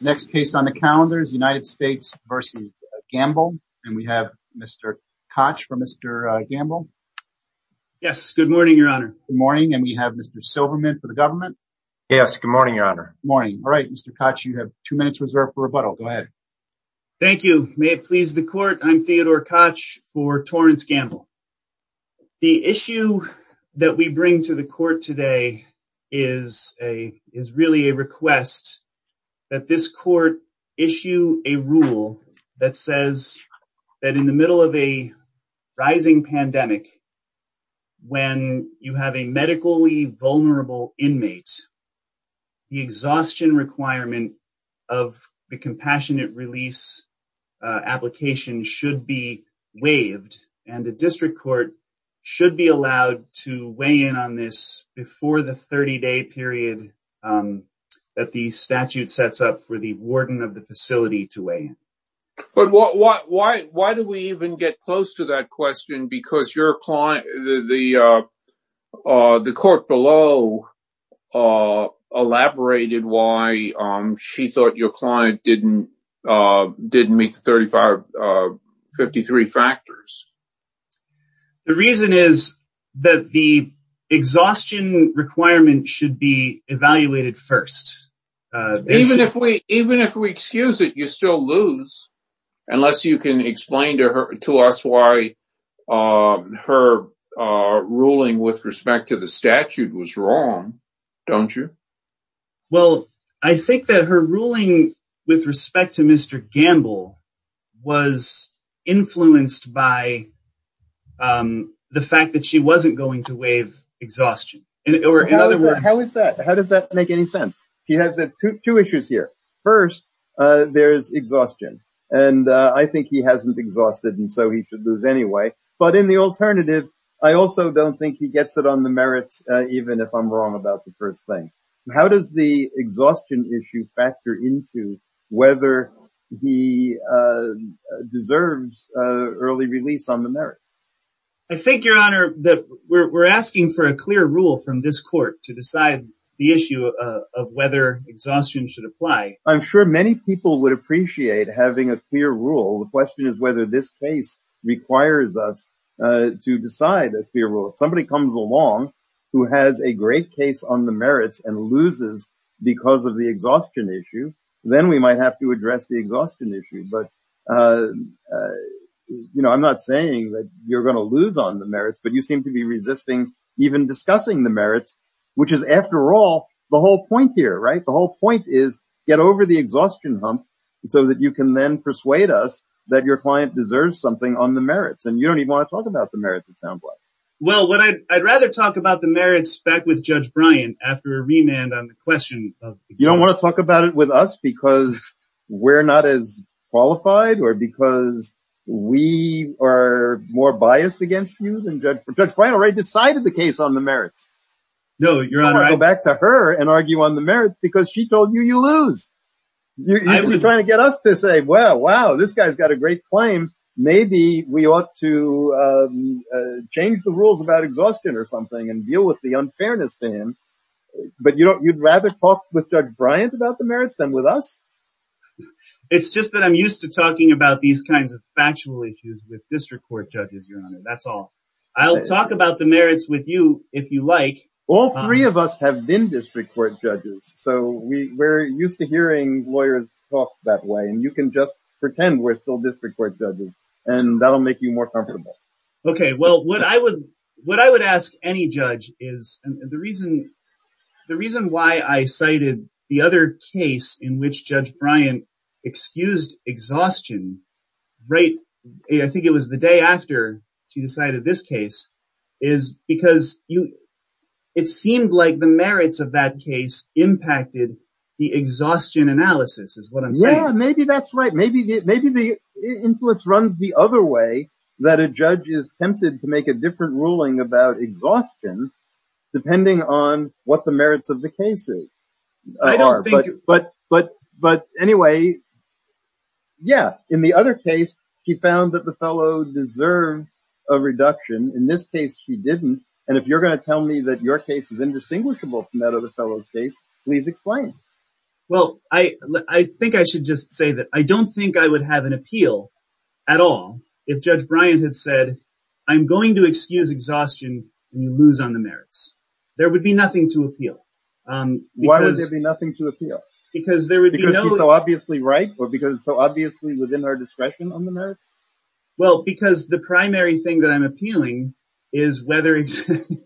Next case on the calendar is United States v. Gamble, and we have Mr. Koch for Mr. Gamble. Yes, good morning, your honor. Good morning, and we have Mr. Silverman for the government. Yes, good morning, your honor. Good morning. All right, Mr. Koch, you have two minutes reserved for rebuttal. Go ahead. Thank you. May it please the court, I'm Theodore Koch for Torrance Gamble. The issue that we bring to the court today is really a request that this court issue a rule that says that in the middle of a rising pandemic, when you have a medically vulnerable inmate, the exhaustion requirement of the compassionate release application should be waived, and the district court should be allowed to weigh in on this before the 30-day period that the statute sets up for the warden of the facility to weigh in. But why do we even get close to that question? Because the court below elaborated why she thought your client didn't meet the 53 factors. The reason is that the exhaustion requirement should be evaluated first. Even if we excuse it, you still lose, unless you can explain to us why her ruling with respect to the statute was wrong, don't you? Well, I think that her ruling with respect to Mr. Gamble was influenced by the fact that she wasn't going to waive exhaustion. How is that? How does that make any sense? She has two issues here. First, there's exhaustion, and I think he hasn't exhausted, and so he should lose anyway. But in the alternative, I also don't think he gets it on the merits, even if I'm wrong about the first thing. How does the exhaustion issue factor into whether he deserves early release on the merits? I think, Your Honor, that we're asking for a clear rule from this court to decide the issue of whether exhaustion should apply. I'm sure many people would appreciate having a clear rule. The question is whether this case requires us to decide a clear rule. If somebody comes along who has a great case on the merits and loses because of the exhaustion issue, then we might have to address the exhaustion issue. I'm not saying that you're going to lose on the merits, but you seem to be resisting even discussing the merits, which is, after all, the whole point here. The whole point is get over the exhaustion hump so that you can then persuade us that your client deserves something on the merits. You don't even want to talk about the merits back with Judge Bryant after a remand on the question of exhaustion. You don't want to talk about it with us because we're not as qualified or because we are more biased against you than Judge Bryant? Judge Bryant already decided the case on the merits. You want to go back to her and argue on the merits because she told you you lose. You're trying to get us to say, well, wow, this guy's got a great claim. Maybe we ought to change the rules about exhaustion or something and deal with the unfairness then. But you'd rather talk with Judge Bryant about the merits than with us? It's just that I'm used to talking about these kinds of factual issues with district court judges, Your Honor. That's all. I'll talk about the merits with you if you like. All three of us have been district court judges, so we're used to hearing lawyers talk that way, and you can just pretend we're still district court judges, and that'll make you more comfortable. Okay. Well, what I would ask any judge is, and the reason why I cited the other case in which Judge Bryant excused exhaustion right, I think it was the day after she decided this case, is because it seemed like the merits of that case impacted the exhaustion analysis is what I'm Yeah, maybe that's right. Maybe the influence runs the other way that a judge is tempted to make a different ruling about exhaustion depending on what the merits of the case is. But anyway, yeah, in the other case, she found that the fellow deserved a reduction. In this case, she didn't. And if you're going to tell me that your case is indistinguishable from that please explain. Well, I think I should just say that I don't think I would have an appeal at all if Judge Bryant had said, I'm going to excuse exhaustion when you lose on the merits. There would be nothing to appeal. Why would there be nothing to appeal? Because there would be no... Because it's so obviously right or because it's so obviously within our discretion on the merits? Well, because the primary thing that I'm appealing is whether it's the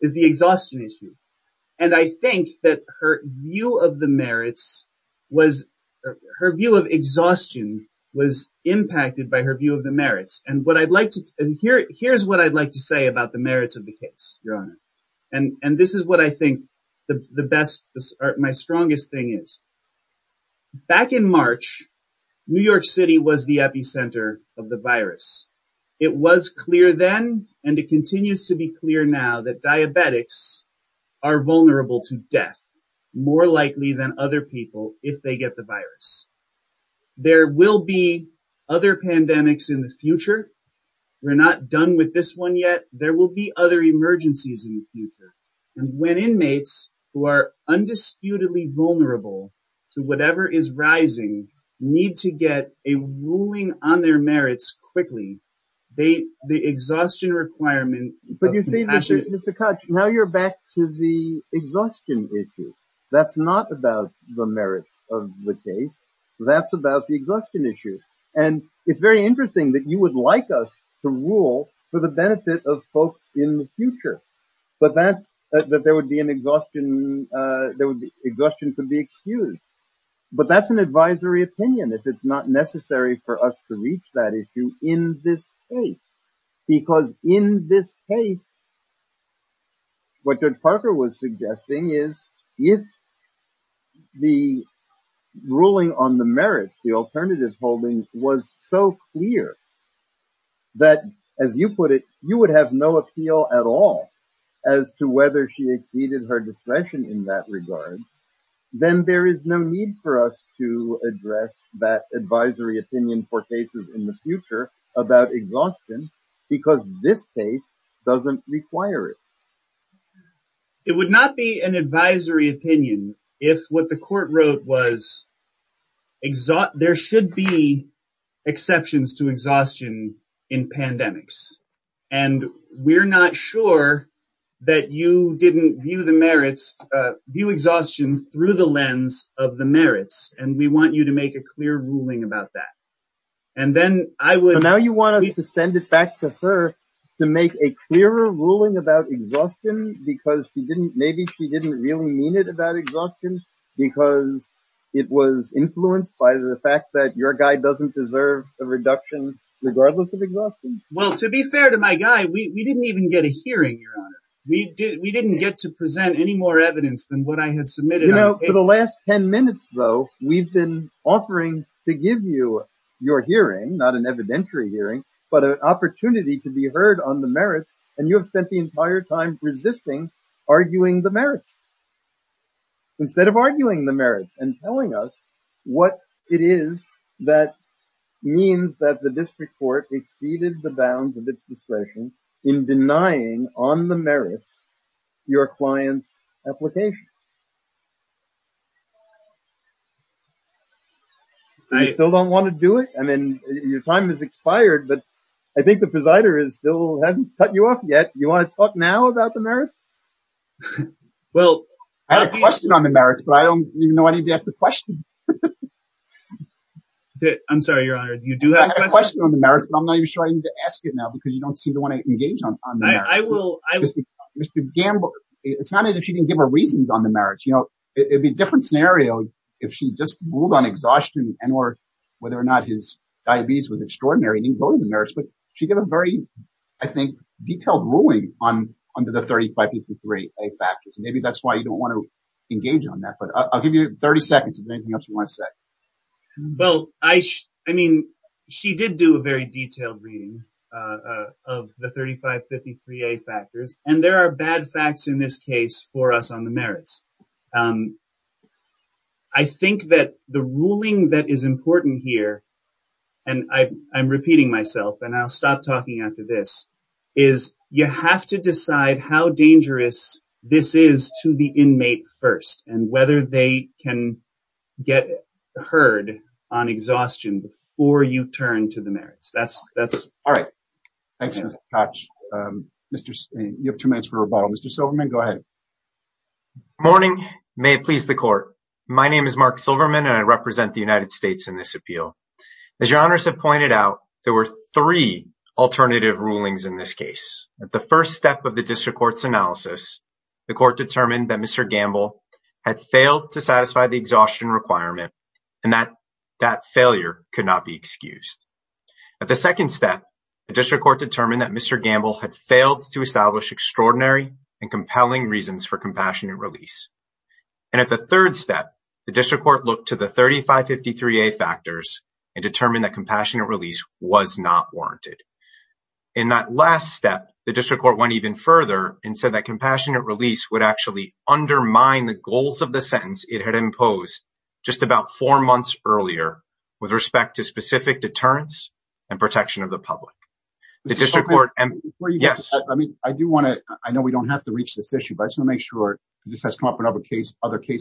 exhaustion issue. And I think that her view of the merits was... Her view of exhaustion was impacted by her view of the merits. And what I'd like to... And here's what I'd like to say about the merits of the case, Your Honor. And this is what I think the best, my strongest thing is. Back in March, New York City was the epicenter of the virus. It was clear then and it continues to be clear now that diabetics are vulnerable to death more likely than other people if they get the virus. There will be other pandemics in the future. We're not done with this one yet. There will be other emergencies in the future. And when inmates who are undisputedly vulnerable to whatever is rising need to get a ruling on their merits quickly, the exhaustion requirement But you see, Mr. Koch, now you're back to the exhaustion issue. That's not about the merits of the case. That's about the exhaustion issue. And it's very interesting that you would like us to rule for the benefit of folks in the future. But that's... That there would be an exhaustion... There would be... Exhaustion could be excused. But that's an advisory opinion if it's not necessary for us to reach that issue in this case. Because in this case, what Judge Parker was suggesting is if the ruling on the merits, the alternatives holdings, was so clear that, as you put it, you would have no appeal at all as to whether she exceeded her discretion in that regard, then there is no need for us to address that advisory opinion for cases in the future about exhaustion because this case doesn't require it. It would not be an advisory opinion if what the court wrote was there should be exceptions to exhaustion in pandemics. And we're not sure that you didn't view the merits... View exhaustion through the lens of the merits. And we want you to make a clear ruling about that. And then I would... So now you want us to send it back to her to make a clearer ruling about exhaustion because she didn't... Maybe she didn't really mean it about exhaustion because it was influenced by the fact that your guy doesn't deserve a reduction regardless of exhaustion? Well, to be fair to my guy, we didn't even get a hearing, Your Honor. We didn't get to present any more evidence than what I had submitted. You know, for the last 10 minutes, though, we've been offering to give you your hearing, not an evidentiary hearing, but an opportunity to be heard on the merits. And you have spent the entire time resisting, arguing the merits instead of arguing the merits and telling us what it is that means that the district court exceeded the bounds of its discretion in denying on the merits your client's application. I still don't want to do it. I mean, your time has expired, but I think the presider is still hasn't cut you off yet. You want to talk now about the merits? Well, I have a question on the merits, but I don't even know I need to ask the question. I'm sorry, Your Honor, you do have a question on the merits, but I'm not even sure I need to ask it now because you don't seem to want to engage on the merits. Mr. Gamble, it's not as if she didn't give her reasons on the merits. You know, it'd be a different scenario if she just ruled on exhaustion and or whether or not his diabetes was extraordinary and didn't go to the merits. But she gave a very, I think, detailed ruling on the 3553A factors. Maybe that's why you don't want to watch that. Well, I mean, she did do a very detailed reading of the 3553A factors, and there are bad facts in this case for us on the merits. I think that the ruling that is important here, and I'm repeating myself and I'll stop talking after this, is you have to decide how dangerous this is to the inmate first and whether they can get heard on exhaustion before you turn to the merits. That's all right. Thanks, Mr. Koch. You have two minutes for rebuttal. Mr. Silverman, go ahead. Good morning. May it please the Court. My name is Mark Silverman, and I represent the United States in this appeal. As Your Honors have pointed out, there were three alternative rulings in this case. At the first step of the District Court's analysis, the Court determined that Mr. Gamble had failed to satisfy the exhaustion requirement and that that failure could not be excused. At the second step, the District Court determined that Mr. Gamble had failed to establish extraordinary and compelling reasons for compassionate release. And at the third step, the District Court looked to the 3553A factors and determined that compassionate release was not warranted. In that last step, the District Court went even further and said that compassionate release would actually undermine the goals of the sentence it had imposed just about four months earlier with respect to specific deterrence and protection of the public. I know we don't have to reach this issue, but I just want to make sure, because this has come up in other cases,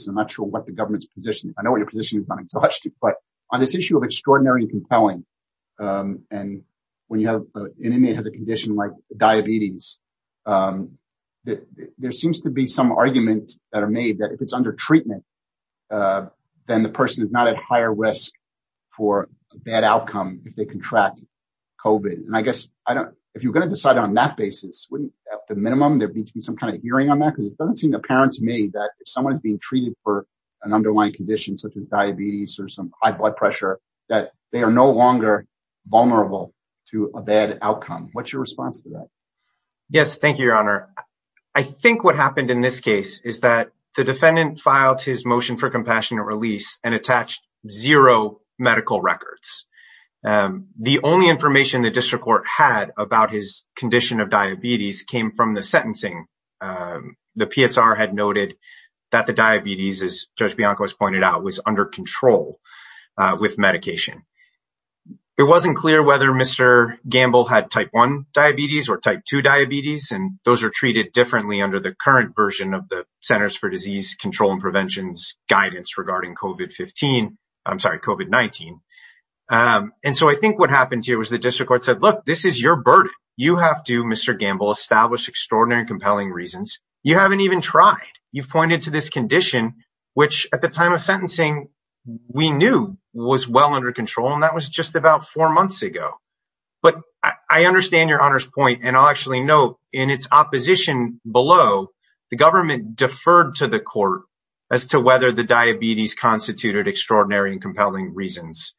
I'm not sure what the government's position is. I know your position is not exhaustive, but on this issue of extraordinary and compelling, and when an inmate has a condition like diabetes, there seems to be some arguments that are made that if it's under treatment, then the person is not at higher risk for a bad outcome if they contract COVID. And I guess if you're going to decide on that basis, wouldn't at the minimum there need to be some kind of hearing on that? Because it doesn't seem apparent to me that if an inmate has an underlying condition such as diabetes or some high blood pressure, that they are no longer vulnerable to a bad outcome. What's your response to that? Yes, thank you, Your Honor. I think what happened in this case is that the defendant filed his motion for compassionate release and attached zero medical records. The only information the District Court had about his condition of diabetes came from the sentencing. The PSR had noted that the diabetes, as Judge Bianco has pointed out, was under control with medication. It wasn't clear whether Mr. Gamble had type 1 diabetes or type 2 diabetes, and those are treated differently under the current version of the Centers for Disease Control and Prevention's guidance regarding COVID-19. And so I think what happened here was the District Court said, look, this is your burden. You have to, Mr. Gamble, establish extraordinary and compelling reasons. You haven't even tried. You've pointed to this condition, which at the time of sentencing we knew was well under control, and that was just about four months ago. But I understand Your Honor's point, and I'll actually note in its opposition below, the government deferred to the court as to whether the diabetes constituted extraordinary and compelling reasons.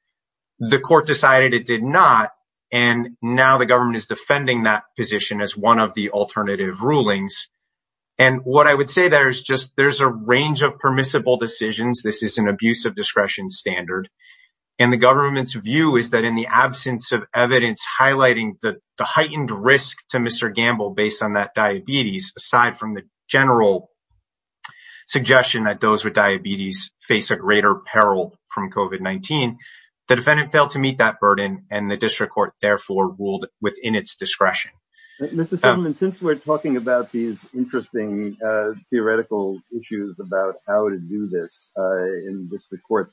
The court decided it did not, and now the government is one of the alternative rulings. And what I would say there is just there's a range of permissible decisions. This is an abuse of discretion standard, and the government's view is that in the absence of evidence highlighting the heightened risk to Mr. Gamble based on that diabetes, aside from the general suggestion that those with diabetes face a greater peril from COVID-19, the defendant failed to meet that burden, and the District Court therefore ruled within its Since we're talking about these interesting theoretical issues about how to do this in District Court,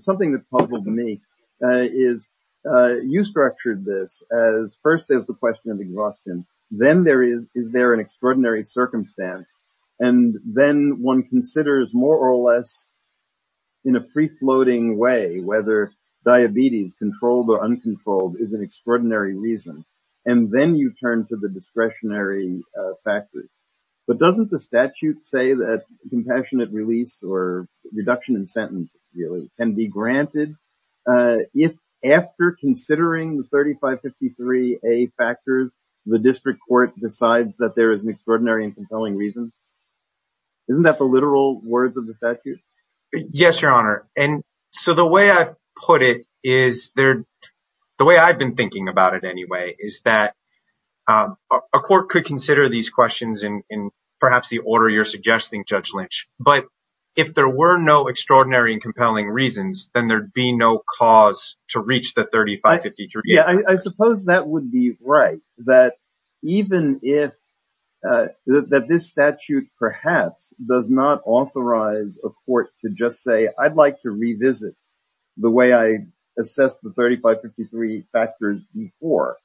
something that puzzled me is you structured this as first there's the question of exhaustion, then is there an extraordinary circumstance, and then one considers more or less in a free-floating way whether diabetes, controlled or uncontrolled, is an extraordinary reason, and then you turn to the discretionary factors. But doesn't the statute say that compassionate release or reduction in sentence really can be granted if after considering the 3553a factors, the District Court decides that there is an extraordinary and compelling reason? Isn't that the literal words of the statute? Yes, Your Honor, and so the way I've put it is there, the way I've been thinking about it anyway, is that a court could consider these questions in perhaps the order you're suggesting, Judge Lynch, but if there were no extraordinary and compelling reasons, then there'd be no cause to reach the 3553a. Yeah, I suppose that would be right, that even if, that this statute perhaps does not authorize a court to just say, I'd like to revisit the way I assessed the 3553 factors before,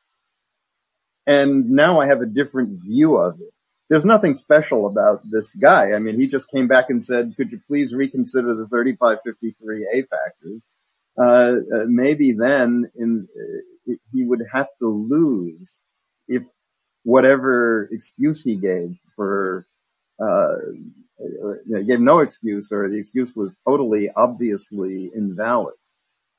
and now I have a different view of it. There's nothing special about this guy. I mean, he just came back and said, could you please reconsider the 3553a factors? Maybe then he would have to lose if whatever excuse he gave for, you know, he gave no excuse or the excuse was totally obviously invalid.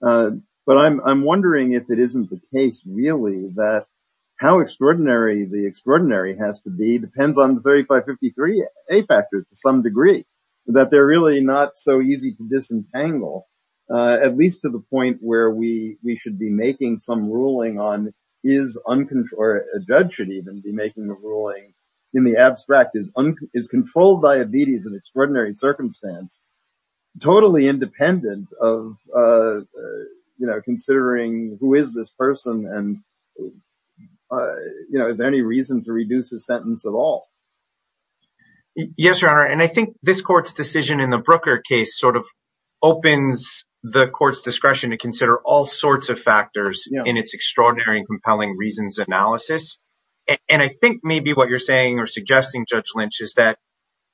But I'm wondering if it isn't the case, really, that how extraordinary the extraordinary has to be depends on the 3553a factors to some degree, that they're really not so easy to disentangle, at least to the point where we should be making some ruling on is uncontrolled, or a judge should enfold diabetes in extraordinary circumstance, totally independent of, you know, considering who is this person? And, you know, is there any reason to reduce his sentence at all? Yes, Your Honor, and I think this court's decision in the Brooker case sort of opens the court's discretion to consider all sorts of factors in its extraordinary and compelling reasons analysis. And I think maybe what you're saying or suggesting, Judge Lynch, is that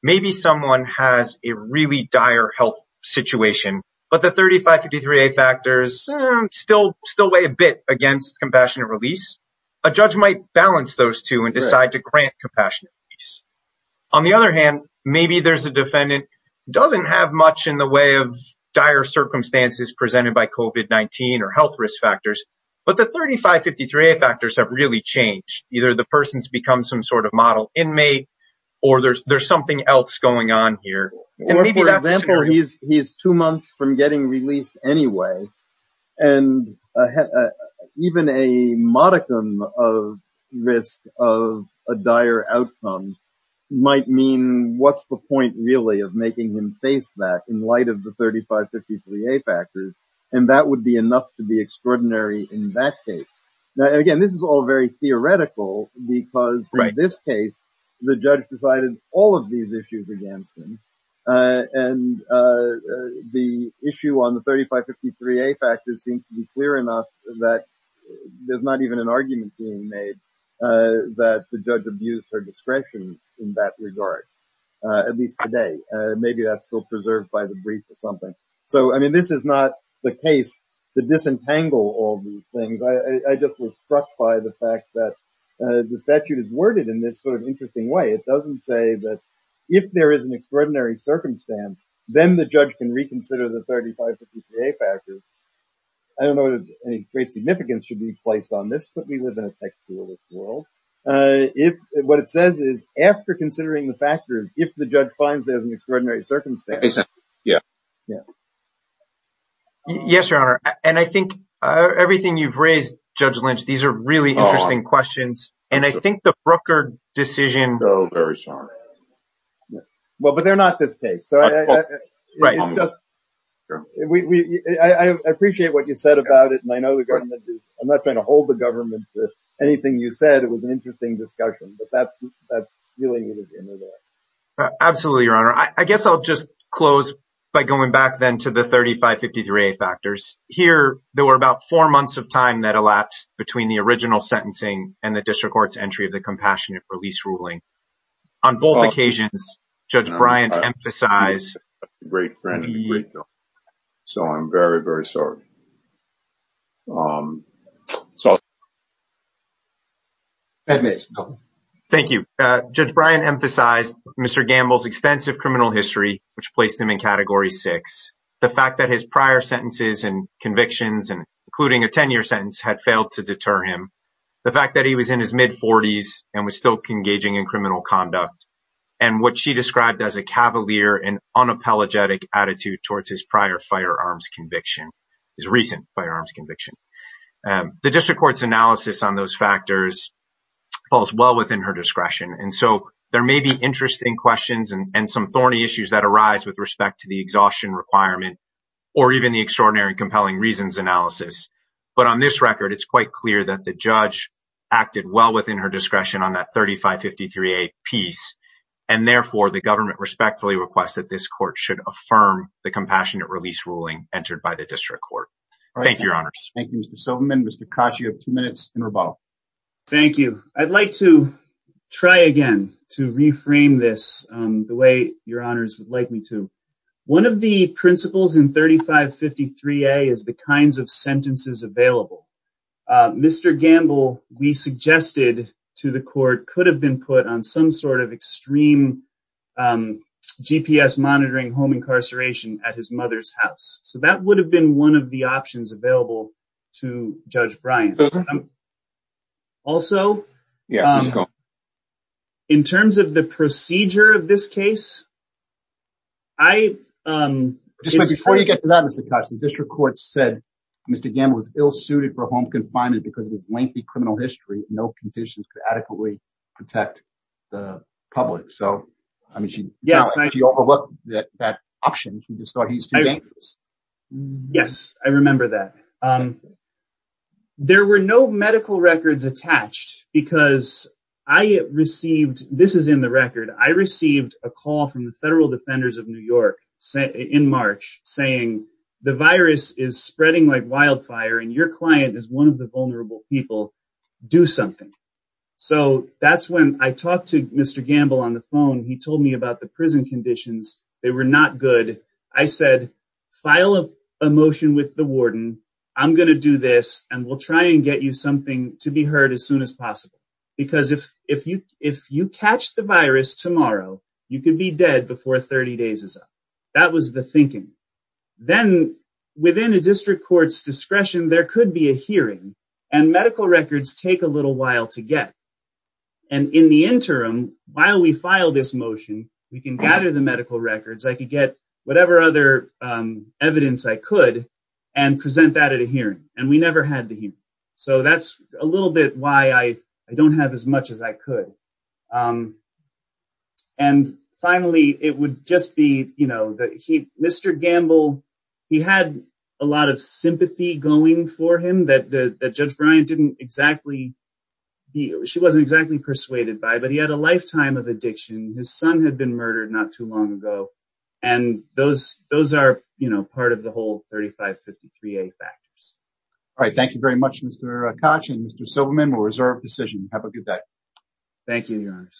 maybe someone has a really dire health situation, but the 3553a factors still weigh a bit against compassionate release. A judge might balance those two and decide to grant compassionate release. On the other hand, maybe there's a defendant doesn't have much in the way of dire circumstances presented by COVID-19 or health risk factors, but the 3553a factors have really changed. Either the person's become some sort of model inmate, or there's there's something else going on here. He's two months from getting released anyway. And even a modicum of risk of a dire outcome might mean what's the point, really, of making him face that in light of the 3553a factors, and that would be enough to be extraordinary in that case. Now, again, this is all very theoretical because in this case, the judge decided all of these issues against him. And the issue on the 3553a factors seems to be clear enough that there's not even an argument being made that the judge abused her discretion in that regard, at least today. Maybe that's still preserved by the brief or something. So, I mean, this is not the case to disentangle all these things. I just was struck by the fact that the statute is worded in this sort of interesting way. It doesn't say that if there is an extraordinary circumstance, then the judge can reconsider the 3553a factors. I don't know that any great significance should be placed on this, but we live in a textualist world. What it says is, after considering the factors, if the judge finds there's an extraordinary circumstance. Yes, Your Honor. And I think everything you've raised, Judge Lynch, these are really interesting questions. And I think the Brooker decision... I'm so very sorry. Well, but they're not this case. I appreciate what you said about it, and I know the government... I'm not trying to hold the government to anything you said. It was an interesting discussion, but that's really what it is. Absolutely, Your Honor. I guess I'll just close by going back then to the 3553a factors. Here, there were about four months of time that elapsed between the original sentencing and the district court's entry of the compassionate release ruling. On both occasions, Judge Bryant emphasized... So I'm very, very sorry. Thank you. Judge Bryant emphasized Mr. Gamble's extensive criminal history, which placed him in Category 6. The fact that his prior sentences and convictions, including a 10-year sentence, had failed to deter him. The fact that he was in his mid-40s and was still engaging in criminal conduct. And what she described as a cavalier and unapologetic attitude towards his prior firearms conviction, his recent firearms conviction. The district court's analysis on those factors falls well within her discretion. And so there may be interesting questions and some thorny issues that arise with respect to the exhaustion requirement or even the extraordinary compelling reasons analysis. But on this record, it's quite clear that the judge acted well within her discretion on that 3553a piece. And therefore, the government respectfully requests that this court should affirm the compassionate release ruling entered by the district court. Thank you, your honors. Thank you, Mr. Silverman. Mr. Koch, you have two minutes in rebuttal. Thank you. I'd like to try again to reframe this the way your honors would like me to. One of the principles in 3553a is the kinds of sentences available. Mr. Gamble, we suggested to the court, could have been put on some sort of extreme GPS monitoring home incarceration at his mother's house. So that would have been one of the options available to Judge Bryant. Also, in terms of the procedure of this case, I... Before you get to that, Mr. Koch, the district court said Mr. Gamble was ill-suited for home confinement because of his lengthy criminal history and no conditions could adequately protect the public. So, I mean, she overlooked that option. She just thought he's too dangerous. Yes, I remember that. There were no medical records attached because I received, this is in the record, I received a call from the federal defenders of New York in March saying the virus is spreading like wildfire and your client is one of the vulnerable people. Do something. So that's when I talked to Mr. Gamble on the phone. He told me about the prison conditions. They were not good. I said, file a motion with the warden. I'm going to do this and we'll try and get you something to be heard as soon as possible. Because if you catch the virus tomorrow, you could be dead before 30 days is up. That was the thinking. Then, within a district court's discretion, there could be a hearing and medical records take a little while to get. And in the interim, while we file this motion, we can gather the medical records. I could get whatever other evidence I could and present that at a hearing. And we never had the hearing. So that's a little bit why I don't have as much as I could. And finally, it would just be, you know, Mr. Gamble, he had a lot of sympathy going for him that Judge Bryant didn't exactly, she wasn't exactly persuaded by, but he had a lifetime of addiction. His son had been murdered not too long ago. And those are, you know, part of the whole 3553A factors. All right. Thank you very much, Mr. Koch and Mr. Silverman. We'll reserve the decision. Have a good day. Thank you, Your Honor.